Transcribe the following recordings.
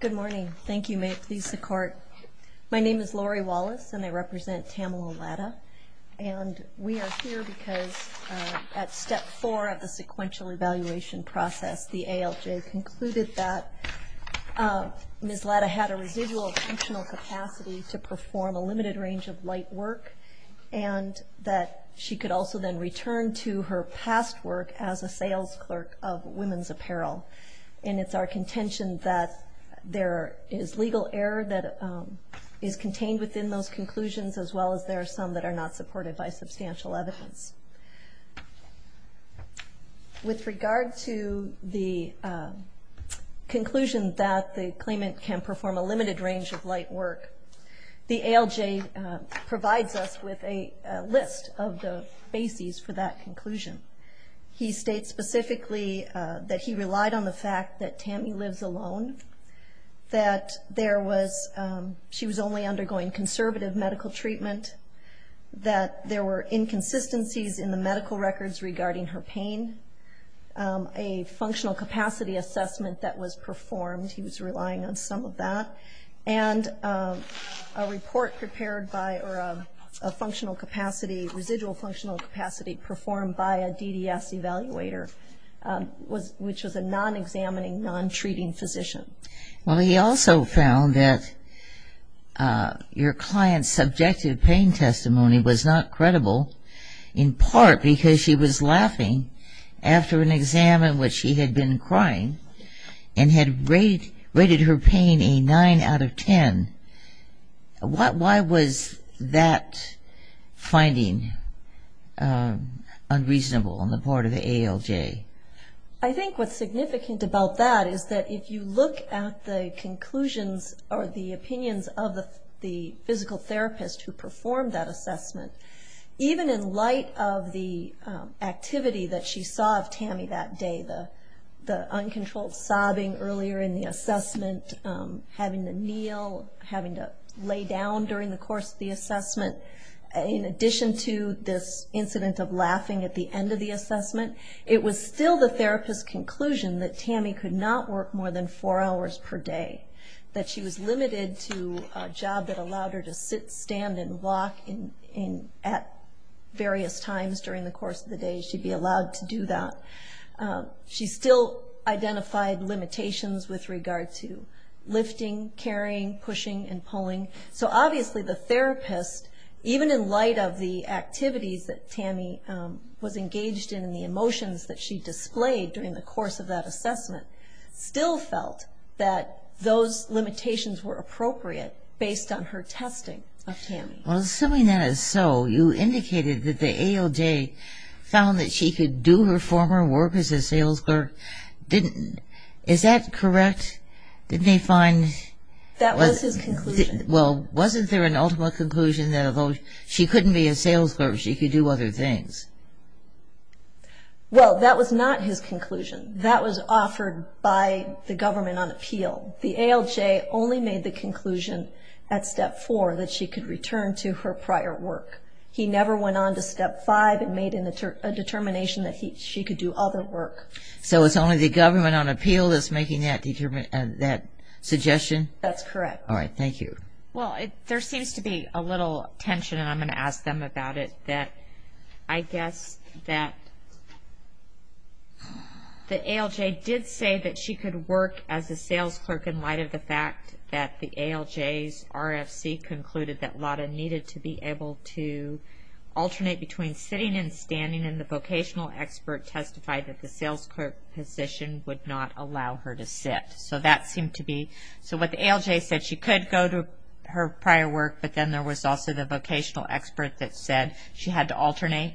Good morning. Thank you. May it please the Court. My name is Lori Wallace and I represent Tamela Latta. And we are here because at Step 4 of the sequential evaluation process, the ALJ concluded that Ms. Latta had a residual functional capacity to perform a limited range of light work and that she could also then return to her past work as a sales clerk of women's apparel. And it's our contention that there is legal error that is contained within those conclusions as well as there are some that are not supported by substantial evidence. With regard to the conclusion that the claimant can perform a limited range of light work, the ALJ provides us with a list of the bases for that conclusion. He states specifically that he relied on the fact that Tammy lives alone, that she was only undergoing conservative medical treatment, that there were inconsistencies in the medical records regarding her pain, a functional capacity assessment that was performed, he was relying on some of that, and a report prepared by or a functional capacity, residual functional capacity performed by a DDS evaluator, which was a non-examining, non-treating physician. Well, he also found that your client's subjective pain testimony was not credible, in part because she was laughing after an exam in which she had been crying and had rated her pain a 9 out of 10. Why was that finding unreasonable on the part of the ALJ? I think what's significant about that is that if you look at the conclusions or the opinions of the physical therapist who performed that assessment, even in light of the activity that she saw of Tammy that day, the uncontrolled sobbing earlier in the assessment, having to kneel, having to lay down during the course of the assessment, in addition to this incident of laughing at the end of the assessment, it was still the therapist's conclusion that Tammy could not work more than four hours per day, that she was limited to a job that allowed her to sit, stand, and walk at various times during the course of the day. She'd be allowed to do that. She still identified limitations with regard to lifting, carrying, pushing, and pulling. So obviously the therapist, even in light of the activities that Tammy was engaged in and the emotions that she displayed during the course of that assessment, still felt that those limitations were appropriate based on her testing of Tammy. Assuming that is so, you indicated that the ALJ found that she could do her former work as a sales clerk. Is that correct? That was his conclusion. Well, wasn't there an ultimate conclusion that although she couldn't be a sales clerk, she could do other things? Well, that was not his conclusion. That was offered by the government on appeal. The ALJ only made the conclusion at step four that she could return to her prior work. He never went on to step five and made a determination that she could do other work. So it's only the government on appeal that's making that suggestion? That's correct. All right, thank you. Well, there seems to be a little tension, and I'm going to ask them about it, that I guess that the ALJ did say that she could work as a sales clerk in light of the fact that the ALJ's RFC concluded that Lotta needed to be able to alternate between sitting and standing, and the vocational expert testified that the sales clerk position would not allow her to sit. So what the ALJ said, she could go to her prior work, but then there was also the vocational expert that said she had to alternate,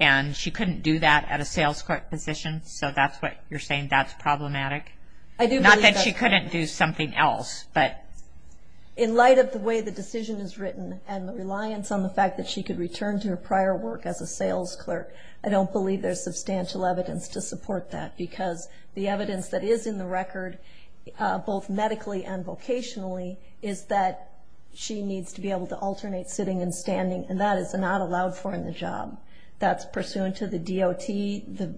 and she couldn't do that at a sales clerk position. So that's what you're saying, that's problematic? Not that she couldn't do something else. In light of the way the decision is written and the reliance on the fact that she could return to her prior work as a sales clerk, I don't believe there's substantial evidence to support that, because the evidence that is in the record, both medically and vocationally, is that she needs to be able to alternate sitting and standing, and that is not allowed for in the job. That's pursuant to the DOT, the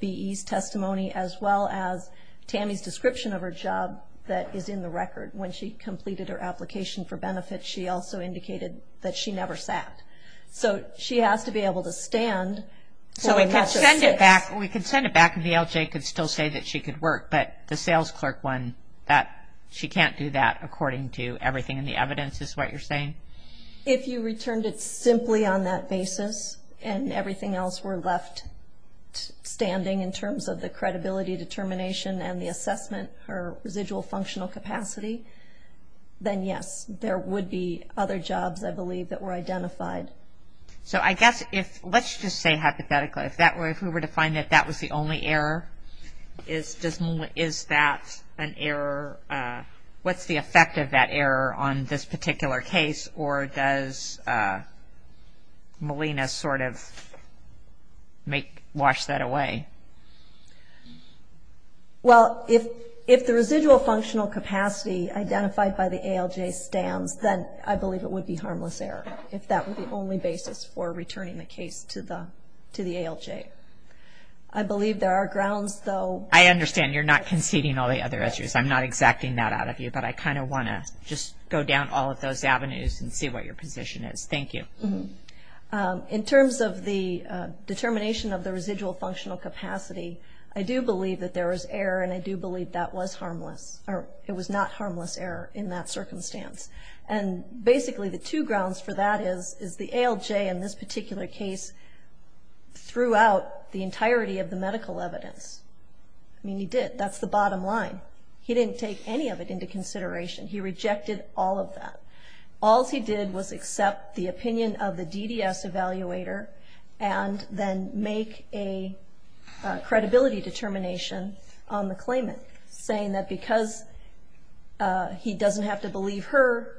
BE's testimony, as well as Tammy's description of her job that is in the record. When she completed her application for benefits, she also indicated that she never sat. So she has to be able to stand. So we could send it back, and the ALJ could still say that she could work, but the sales clerk one, that she can't do that, according to everything in the evidence is what you're saying? If you returned it simply on that basis, and everything else were left standing in terms of the credibility determination and the assessment or residual functional capacity, then yes, there would be other jobs, I believe, that were identified. So I guess if, let's just say hypothetically, if we were to find that that was the only error, is that an error? What's the effect of that error on this particular case, or does Molina sort of wash that away? Well, if the residual functional capacity identified by the ALJ stands, then I believe it would be harmless error, if that were the only basis for returning the case to the ALJ. I believe there are grounds, though. I understand you're not conceding all the other issues. I'm not exacting that out of you, but I kind of want to just go down all of those avenues and see what your position is. Thank you. In terms of the determination of the residual functional capacity, I do believe that there was error, and I do believe that was harmless, or it was not harmless error in that circumstance. And basically the two grounds for that is, is the ALJ in this particular case threw out the entirety of the medical evidence. I mean, he did. That's the bottom line. He didn't take any of it into consideration. He rejected all of that. All he did was accept the opinion of the DDS evaluator and then make a credibility determination on the claimant, saying that because he doesn't have to believe her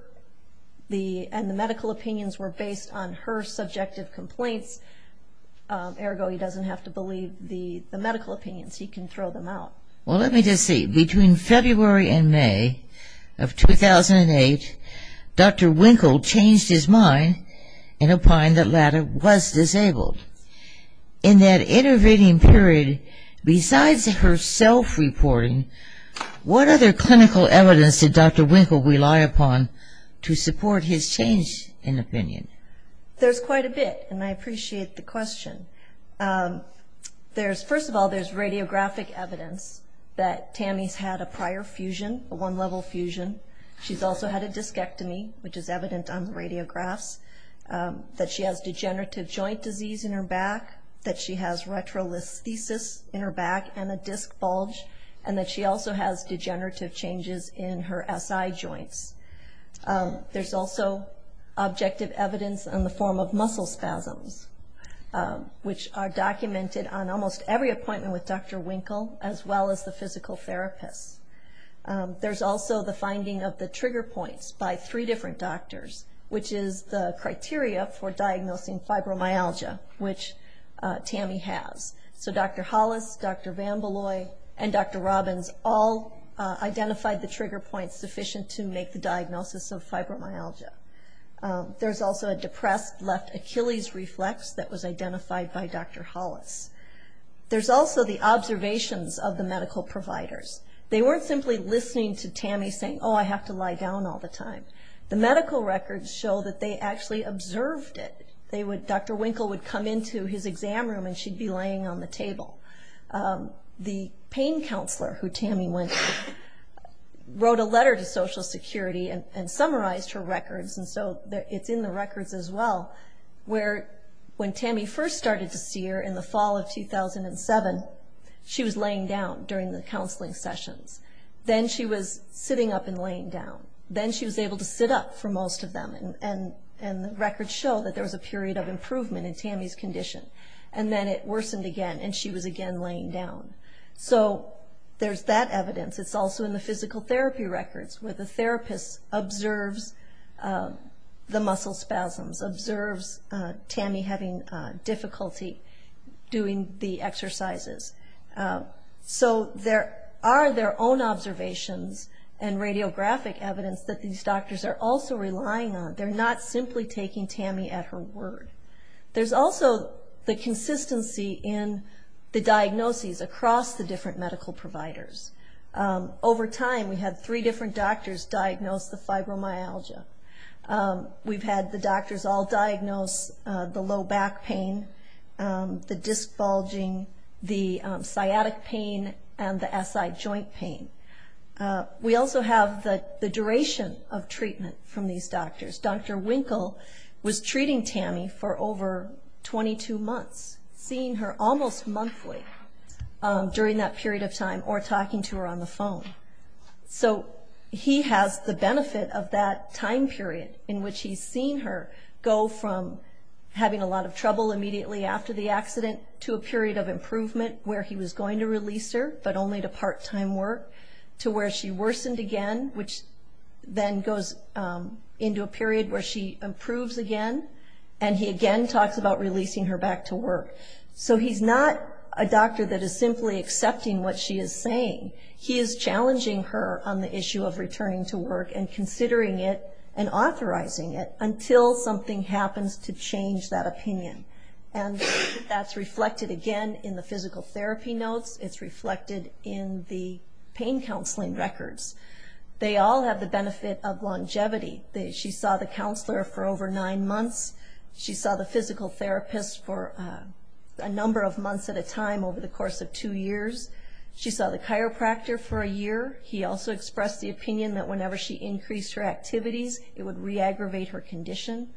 and the medical opinions were based on her subjective complaints, ergo he doesn't have to believe the medical opinions. He can throw them out. Well, let me just see. Between February and May of 2008, Dr. Winkle changed his mind and opined that Latta was disabled. In that intervening period, besides her self-reporting, what other clinical evidence did Dr. Winkle rely upon to support his change in opinion? There's quite a bit, and I appreciate the question. First of all, there's radiographic evidence that Tammy's had a prior fusion, a one-level fusion. She's also had a discectomy, which is evident on the radiographs, that she has degenerative joint disease in her back, that she has retrolithesis in her back and a disc bulge, and that she also has degenerative changes in her SI joints. There's also objective evidence in the form of muscle spasms, which are documented on almost every appointment with Dr. Winkle, as well as the physical therapist. There's also the finding of the trigger points by three different doctors, which is the criteria for diagnosing fibromyalgia, which Tammy has. So Dr. Hollis, Dr. VanBeloy, and Dr. Robbins all identified the trigger points sufficient to make the diagnosis of fibromyalgia. There's also a depressed left Achilles reflex that was identified by Dr. Hollis. There's also the observations of the medical providers. They weren't simply listening to Tammy saying, Oh, I have to lie down all the time. The medical records show that they actually observed it. Dr. Winkle would come into his exam room, and she'd be laying on the table. The pain counselor who Tammy went to wrote a letter to Social Security and summarized her records, and so it's in the records as well, where when Tammy first started to see her in the fall of 2007, she was laying down during the counseling sessions. Then she was sitting up and laying down. Then she was able to sit up for most of them, and the records show that there was a period of improvement in Tammy's condition. And then it worsened again, and she was again laying down. So there's that evidence. It's also in the physical therapy records, where the therapist observes the muscle spasms, observes Tammy having difficulty doing the exercises. So there are their own observations and radiographic evidence that these doctors are also relying on. They're not simply taking Tammy at her word. There's also the consistency in the diagnoses across the different medical providers. Over time, we had three different doctors diagnose the fibromyalgia. We've had the doctors all diagnose the low back pain, the disc bulging, the sciatic pain, and the SI joint pain. We also have the duration of treatment from these doctors. Dr. Winkle was treating Tammy for over 22 months, seeing her almost monthly during that period of time, or talking to her on the phone. So he has the benefit of that time period in which he's seen her go from having a lot of trouble immediately after the accident to a period of improvement, where he was going to release her, but only to part-time work, to where she worsened again, which then goes into a period where she improves again. And he again talks about releasing her back to work. So he's not a doctor that is simply accepting what she is saying. He is challenging her on the issue of returning to work and considering it and authorizing it until something happens to change that opinion. And that's reflected again in the physical therapy notes. It's reflected in the pain counseling records. They all have the benefit of longevity. She saw the counselor for over nine months. She saw the physical therapist for a number of months at a time over the course of two years. She saw the chiropractor for a year. He also expressed the opinion that whenever she increased her activities, it would re-aggravate her condition.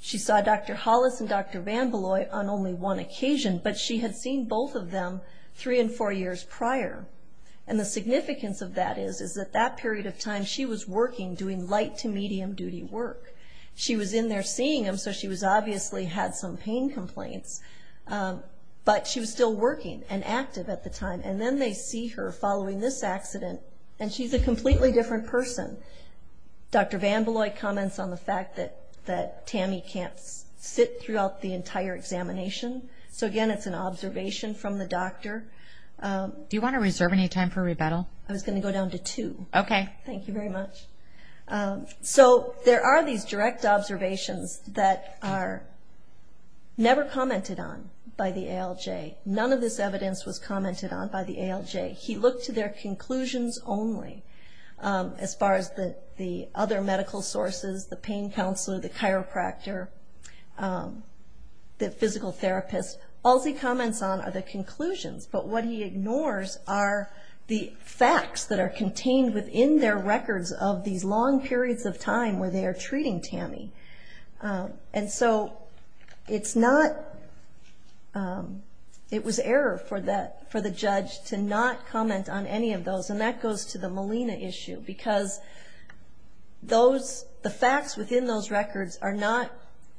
She saw Dr. Hollis and Dr. VanBeloy on only one occasion, but she had seen both of them three and four years prior. And the significance of that is that that period of time she was working, doing light to medium-duty work. She was in there seeing them, so she obviously had some pain complaints, but she was still working and active at the time. And then they see her following this accident, and she's a completely different person. Dr. VanBeloy comments on the fact that Tammy can't sit throughout the entire examination. So, again, it's an observation from the doctor. Do you want to reserve any time for rebuttal? I was going to go down to two. Okay. Thank you very much. So there are these direct observations that are never commented on by the ALJ. None of this evidence was commented on by the ALJ. He looked to their conclusions only. As far as the other medical sources, the pain counselor, the chiropractor, the physical therapist, all he comments on are the conclusions, but what he ignores are the facts that are contained within their records of these long periods of time where they are treating Tammy. And so it's not ‑‑ it was error for the judge to not comment on any of those, and that goes to the Molina issue, because the facts within those records are not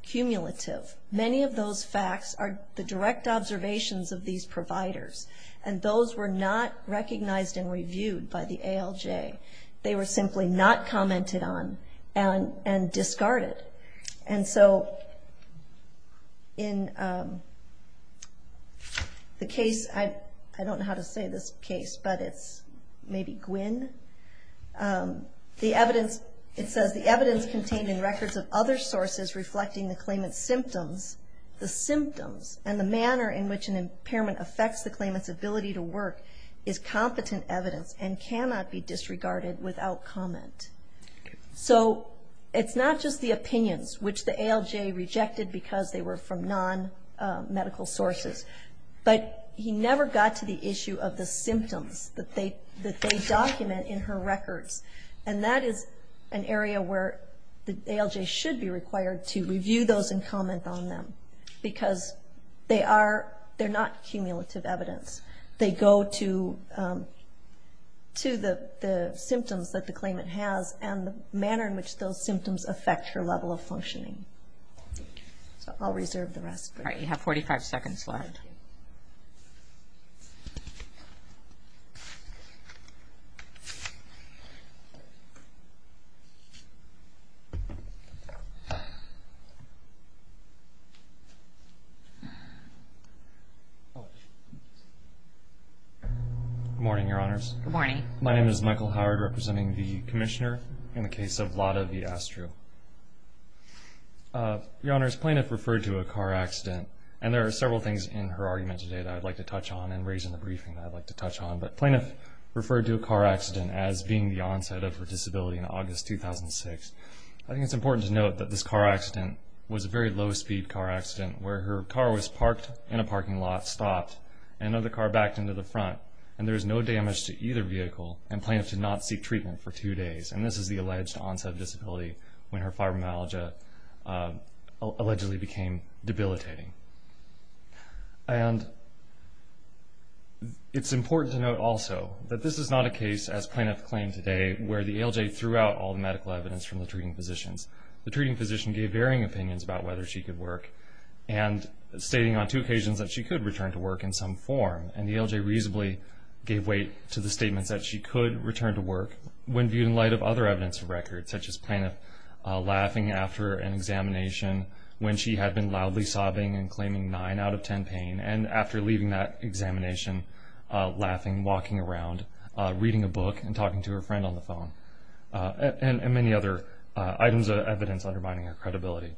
cumulative. Many of those facts are the direct observations of these providers, and those were not recognized and reviewed by the ALJ. They were simply not commented on and discarded. And so in the case ‑‑ I don't know how to say this case, but it's maybe Gwin. The evidence, it says, the evidence contained in records of other sources reflecting the claimant's symptoms, the symptoms and the manner in which an impairment affects the claimant's ability to work, is competent evidence and cannot be disregarded without comment. So it's not just the opinions, which the ALJ rejected because they were from nonmedical sources, but he never got to the issue of the symptoms that they document in her records, and that is an area where the ALJ should be required to review those and comment on them, because they are ‑‑ they're not cumulative evidence. They go to the symptoms that the claimant has and the manner in which those symptoms affect her level of functioning. So I'll reserve the rest. All right, you have 45 seconds left. Good morning, Your Honors. Good morning. My name is Michael Howard, representing the Commissioner in the case of Lada v. Astru. Your Honors, plaintiff referred to a car accident, and there are several things in her argument today that I'd like to touch on and raise in the briefing that I'd like to touch on, but plaintiff referred to a car accident as being the onset of her disability in August 2006. I think it's important to note that this car accident was a very low‑speed car accident where her car was parked in a parking lot, stopped, and another car backed into the front, and there was no damage to either vehicle, and plaintiff did not seek treatment for two days, and this is the alleged onset of disability when her fibromyalgia allegedly became debilitating. And it's important to note also that this is not a case, as plaintiff claimed today, where the ALJ threw out all the medical evidence from the treating physicians. The treating physician gave varying opinions about whether she could work and stating on two occasions that she could return to work in some form, and the ALJ reasonably gave weight to the statements that she could return to work when viewed in light of other evidence of record, such as plaintiff laughing after an examination when she had been loudly sobbing and claiming nine out of ten pain, and after leaving that examination laughing, walking around, reading a book, and talking to her friend on the phone, and many other items of evidence undermining her credibility.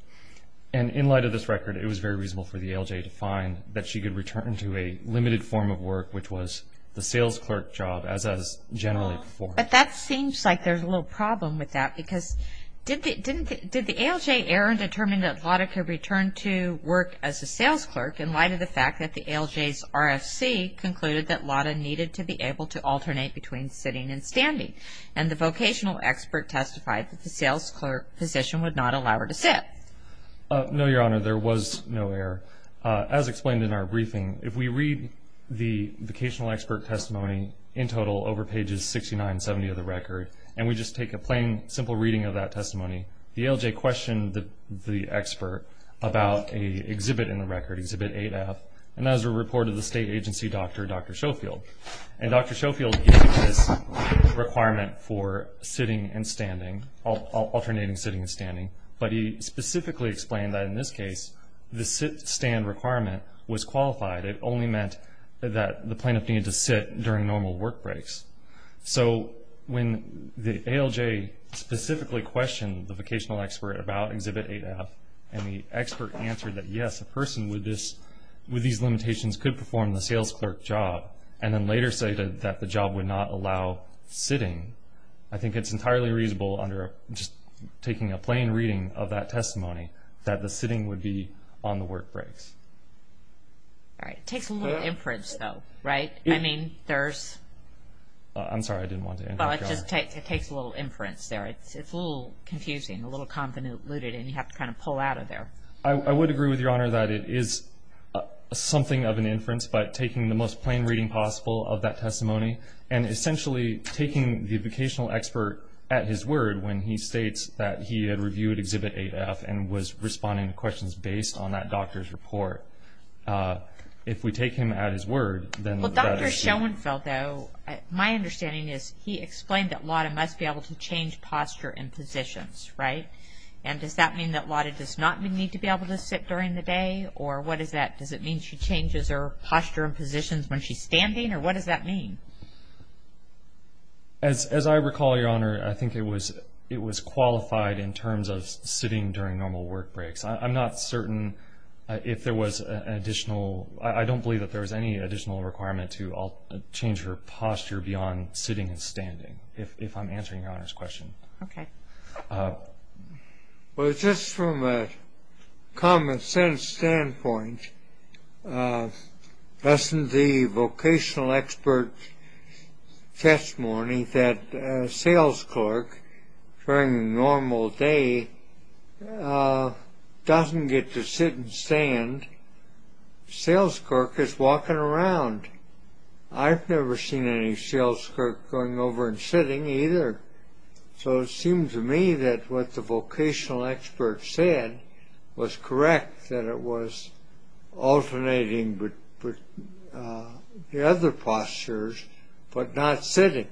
And in light of this record, it was very reasonable for the ALJ to find that she could return to a limited form of work, which was the sales clerk job as is generally performed. But that seems like there's a little problem with that because did the ALJ err in determining that Lotta could return to work as a sales clerk in light of the fact that the ALJ's RFC concluded that Lotta needed to be able to alternate between sitting and standing, and the vocational expert testified that the sales clerk position would not allow her to sit? No, Your Honor, there was no error. As explained in our briefing, if we read the vocational expert testimony in total over pages 69 and 70 of the record, and we just take a plain, simple reading of that testimony, the ALJ questioned the expert about an exhibit in the record, Exhibit 8F, and that was a report of the state agency doctor, Dr. Schofield. And Dr. Schofield gave this requirement for sitting and standing, alternating sitting and standing, but he specifically explained that in this case, the sit-stand requirement was qualified. It only meant that the plaintiff needed to sit during normal work breaks. So when the ALJ specifically questioned the vocational expert about Exhibit 8F and the expert answered that, yes, a person with these limitations could perform the sales clerk job and then later stated that the job would not allow sitting, I think it's entirely reasonable under just taking a plain reading of that testimony that the sitting would be on the work breaks. All right. It takes a little inference, though, right? I mean, there's – I'm sorry. I didn't want to interrupt, Your Honor. Well, it just takes a little inference there. It's a little confusing, a little convoluted, and you have to kind of pull out of there. I would agree with Your Honor that it is something of an inference, but taking the most plain reading possible of that testimony and essentially taking the vocational expert at his word when he states that he had reviewed Exhibit 8F and was responding to questions based on that doctor's report, if we take him at his word, then that is true. Well, Dr. Schoenfeld, though, my understanding is he explained that Lotta must be able to change posture in positions, right? And does that mean that Lotta does not need to be able to sit during the day, or what is that? Does it mean she changes her posture and positions when she's standing, or what does that mean? As I recall, Your Honor, I think it was qualified in terms of sitting during normal work breaks. I'm not certain if there was an additional – I don't believe that there was any additional requirement to change her posture beyond sitting and standing, if I'm answering Your Honor's question. Okay. Well, just from a common-sense standpoint, doesn't the vocational expert's testimony that a sales clerk, during a normal day, doesn't get to sit and stand? The sales clerk is walking around. I've never seen any sales clerk going over and sitting either. So it seems to me that what the vocational expert said was correct, that it was alternating the other postures, but not sitting.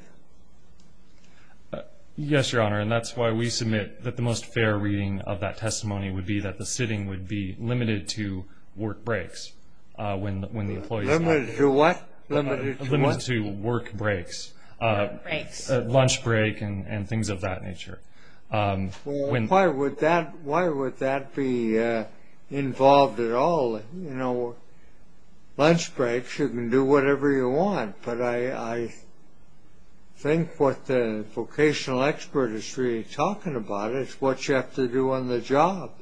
Yes, Your Honor, and that's why we submit that the most fair reading of that testimony would be that the sitting would be limited to work breaks when the employees – Limited to what? Limited to work breaks. Work breaks. Lunch break and things of that nature. Why would that be involved at all? You know, lunch breaks, you can do whatever you want, but I think what the vocational expert is really talking about is what you have to do on the job.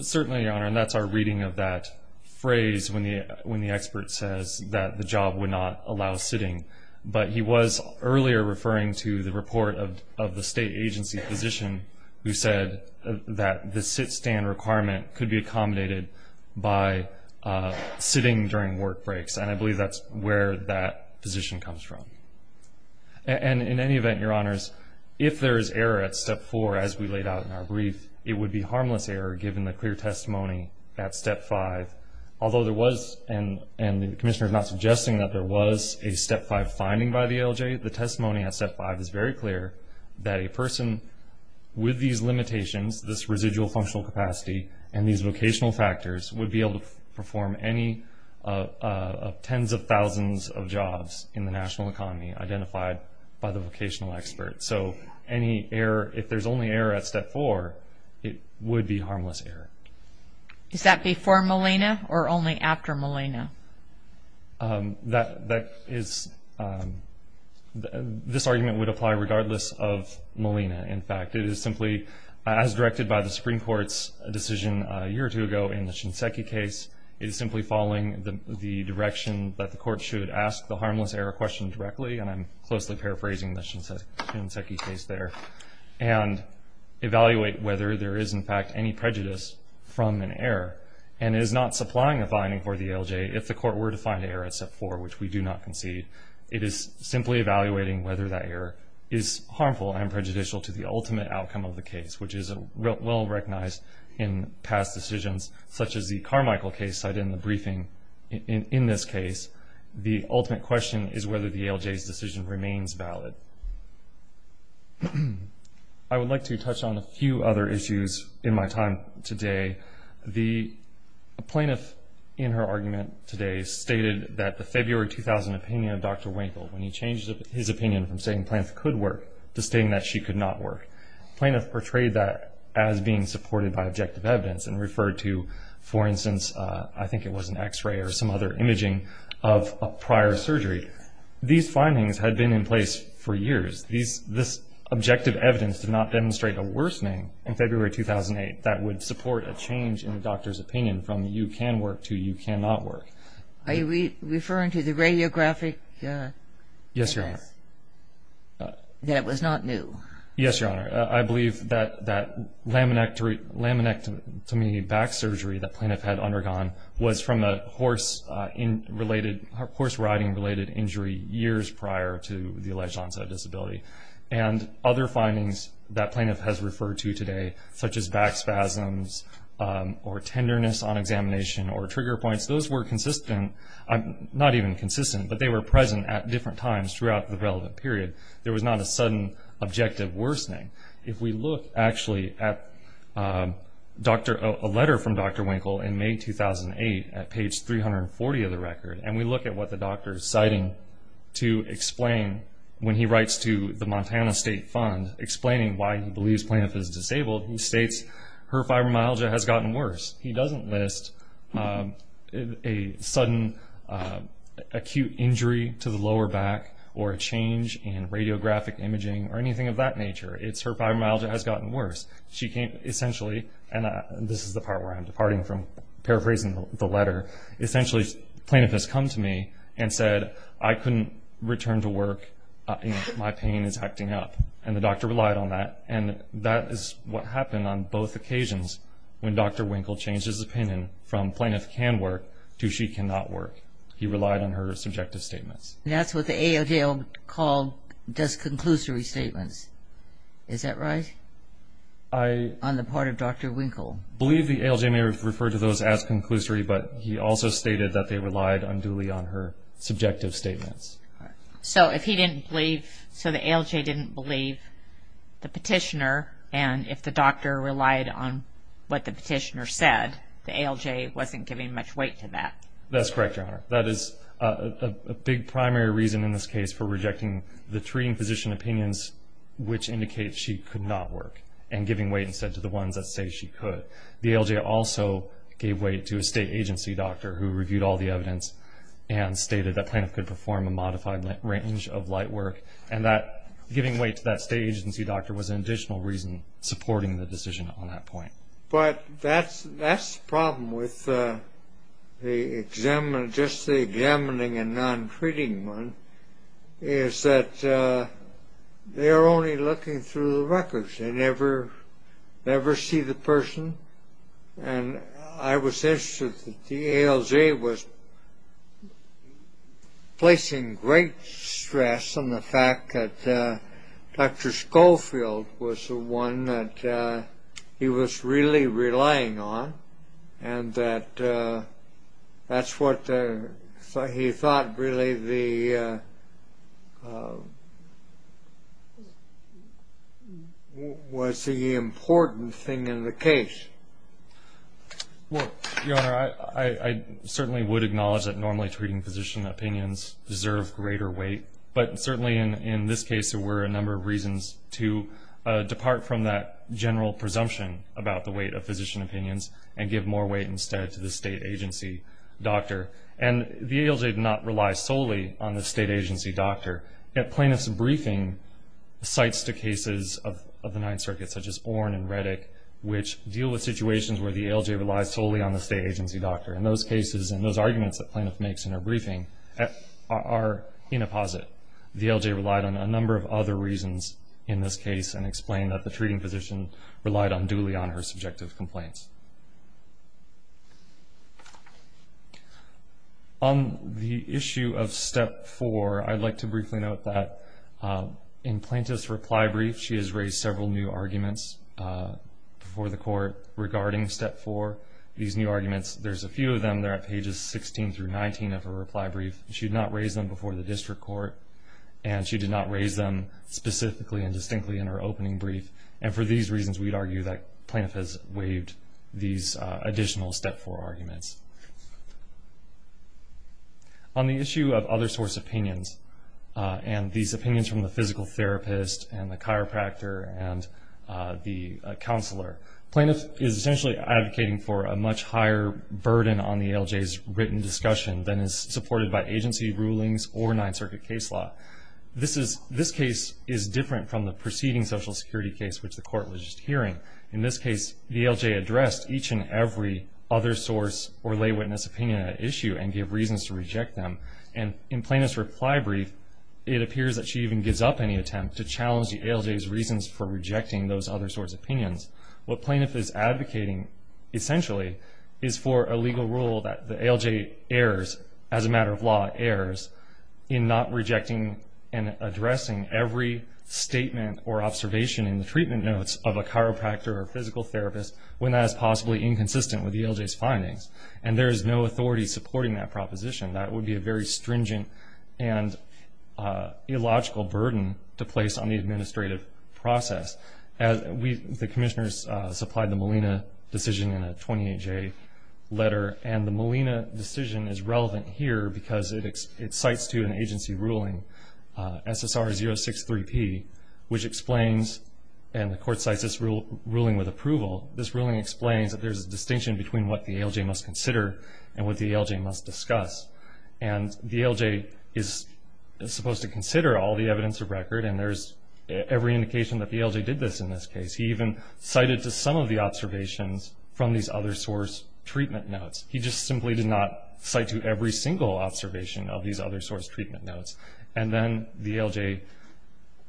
Certainly, Your Honor, and that's our reading of that phrase when the expert says that the job would not allow sitting. But he was earlier referring to the report of the state agency physician who said that the sit-stand requirement could be accommodated by sitting during work breaks, and I believe that's where that physician comes from. And in any event, Your Honors, if there is error at Step 4, as we laid out in our brief, it would be harmless error given the clear testimony at Step 5, although there was – and the Commissioner is not suggesting that there was a Step 5 finding by the ALJ. The testimony at Step 5 is very clear that a person with these limitations, this residual functional capacity, and these vocational factors would be able to perform any of tens of thousands of jobs in the national economy identified by the vocational expert. So any error – if there's only error at Step 4, it would be harmless error. Is that before Molina or only after Molina? That is – this argument would apply regardless of Molina. In fact, it is simply, as directed by the Supreme Court's decision a year or two ago in the Shinseki case, it is simply following the direction that the court should ask the harmless error question directly, and I'm closely paraphrasing the Shinseki case there, and evaluate whether there is, in fact, any prejudice from an error, and is not supplying a finding for the ALJ if the court were to find error at Step 4, which we do not concede. It is simply evaluating whether that error is harmful and prejudicial to the ultimate outcome of the case, which is well-recognized in past decisions, such as the Carmichael case cited in the briefing. In this case, the ultimate question is whether the ALJ's decision remains valid. I would like to touch on a few other issues in my time today. The plaintiff in her argument today stated that the February 2000 opinion of Dr. Winkle, when he changed his opinion from saying plaintiff could work to stating that she could not work, plaintiff portrayed that as being supported by objective evidence and referred to, for instance, I think it was an x-ray or some other imaging of a prior surgery. These findings had been in place for years. This objective evidence did not demonstrate a worsening in February 2008 that would support a change in the doctor's opinion from you can work to you cannot work. Are you referring to the radiographic test? Yes, Your Honor. That it was not new? Yes, Your Honor. I believe that that laminectomy back surgery the plaintiff had undergone was from a horse-riding-related injury years prior to the alleged onset of disability. And other findings that plaintiff has referred to today, such as back spasms or tenderness on examination or trigger points, those were consistent, not even consistent, but they were present at different times throughout the relevant period. There was not a sudden objective worsening. If we look actually at a letter from Dr. Winkle in May 2008 at page 340 of the record, and we look at what the doctor is citing to explain when he writes to the Montana State Fund explaining why he believes plaintiff is disabled, he states her fibromyalgia has gotten worse. He doesn't list a sudden acute injury to the lower back or a change in radiographic imaging or anything of that nature. It's her fibromyalgia has gotten worse. She came essentially, and this is the part where I'm departing from paraphrasing the letter, essentially plaintiff has come to me and said, I couldn't return to work and my pain is acting up. And the doctor relied on that. And that is what happened on both occasions when Dr. Winkle changed his opinion from plaintiff can work to she cannot work. He relied on her subjective statements. That's what the ALJ does conclusory statements. Is that right on the part of Dr. Winkle? I believe the ALJ may have referred to those as conclusory, but he also stated that they relied unduly on her subjective statements. So if he didn't believe, so the ALJ didn't believe the petitioner, and if the doctor relied on what the petitioner said, the ALJ wasn't giving much weight to that. That's correct, Your Honor. That is a big primary reason in this case for rejecting the treating physician opinions which indicate she could not work, and giving weight instead to the ones that say she could. The ALJ also gave weight to a state agency doctor who reviewed all the evidence and stated that plaintiff could perform a modified range of light work, and that giving weight to that state agency doctor was an additional reason supporting the decision on that point. But that's the problem with just the examining and non-treating one, is that they are only looking through the records. They never see the person. And I was interested that the ALJ was placing great stress on the fact that Dr. Schofield was the one that he was really relying on, and that that's what he thought really was the important thing in the case. Well, Your Honor, I certainly would acknowledge that normally treating physician opinions deserve greater weight, but certainly in this case there were a number of reasons to depart from that general presumption about the weight of physician opinions and give more weight instead to the state agency doctor. And the ALJ did not rely solely on the state agency doctor. Yet plaintiff's briefing cites the cases of the Ninth Circuit, such as Oren and Reddick, which deal with situations where the ALJ relies solely on the state agency doctor. And those cases and those arguments that plaintiff makes in her briefing are in a posit. The ALJ relied on a number of other reasons in this case and explained that the treating physician relied unduly on her subjective complaints. On the issue of Step 4, I'd like to briefly note that in plaintiff's reply brief, she has raised several new arguments before the court regarding Step 4. These new arguments, there's a few of them. They're at pages 16 through 19 of her reply brief. She did not raise them before the district court, and she did not raise them specifically and distinctly in her opening brief. And for these reasons, we'd argue that plaintiff has waived these additional Step 4 arguments. On the issue of other source opinions and these opinions from the physical therapist and the chiropractor and the counselor, plaintiff is essentially advocating for a much higher burden on the ALJ's written discussion than is supported by agency rulings or Ninth Circuit case law. This case is different from the preceding Social Security case, which the court was just hearing. In this case, the ALJ addressed each and every other source or lay witness opinion at issue and gave reasons to reject them. And in plaintiff's reply brief, it appears that she even gives up any attempt to challenge the ALJ's reasons for rejecting those other source opinions. What plaintiff is advocating, essentially, is for a legal rule that the ALJ, as a matter of law, errs in not rejecting and addressing every statement or observation in the treatment notes of a chiropractor or physical therapist when that is possibly inconsistent with the ALJ's findings. And there is no authority supporting that proposition. That would be a very stringent and illogical burden to place on the administrative process. The commissioners supplied the Molina decision in a 28-J letter, and the Molina decision is relevant here because it cites to an agency ruling, SSR 063P, which explains, and the court cites this ruling with approval, this ruling explains that there's a distinction between what the ALJ must consider and what the ALJ must discuss. And the ALJ is supposed to consider all the evidence of record, and there's every indication that the ALJ did this in this case. He even cited to some of the observations from these other source treatment notes. He just simply did not cite to every single observation of these other source treatment notes. And then the ALJ,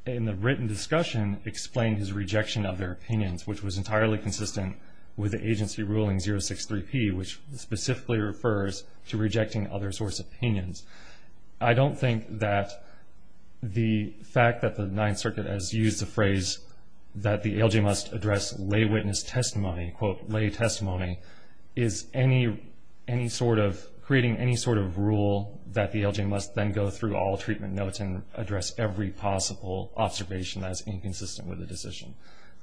in the written discussion, explained his rejection of their opinions, which was entirely consistent with the agency ruling 063P, which specifically refers to rejecting other source opinions. I don't think that the fact that the Ninth Circuit has used the phrase that the ALJ must address lay witness testimony, quote, lay testimony, is creating any sort of rule that the ALJ must then go through all treatment notes and address every possible observation that is inconsistent with the decision.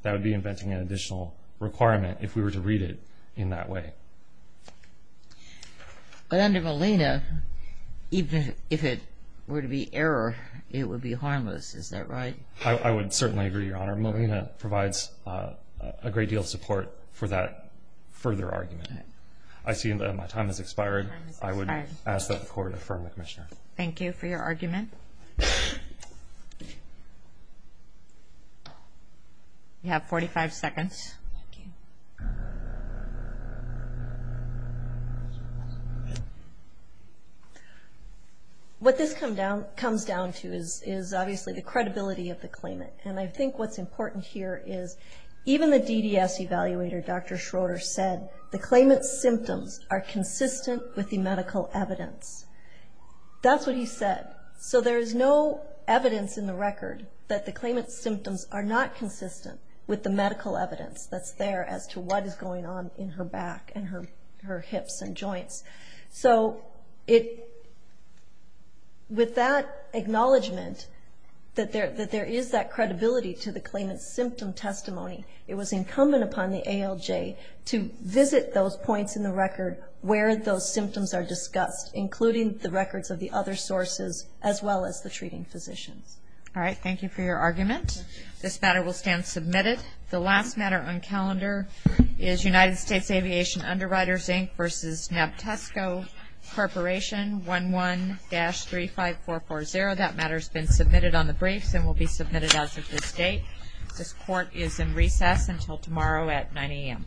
That would be inventing an additional requirement if we were to read it in that way. But under Molina, even if it were to be error, it would be harmless. Is that right? I would certainly agree, Your Honor. Molina provides a great deal of support for that further argument. I see that my time has expired. I would ask that the Court affirm the commissioner. Thank you for your argument. You have 45 seconds. What this comes down to is obviously the credibility of the claimant. And I think what's important here is even the DDS evaluator, Dr. Schroeder, said the claimant's symptoms are consistent with the medical evidence. That's what he said. So there is no evidence in the record that the claimant's symptoms are not consistent with the medical evidence that's there as to what is going on in her back and her hips and joints. So with that acknowledgment that there is that credibility to the claimant's symptom testimony, it was incumbent upon the ALJ to visit those points in the record where those symptoms are discussed, including the records of the other sources as well as the treating physicians. All right. Thank you for your argument. This matter will stand submitted. The last matter on calendar is United States Aviation Underwriters, Inc. v. Nabtesco Corporation, 11-35440. That matter has been submitted on the briefs and will be submitted as of this date. This Court is in recess until tomorrow at 9 a.m. All rise.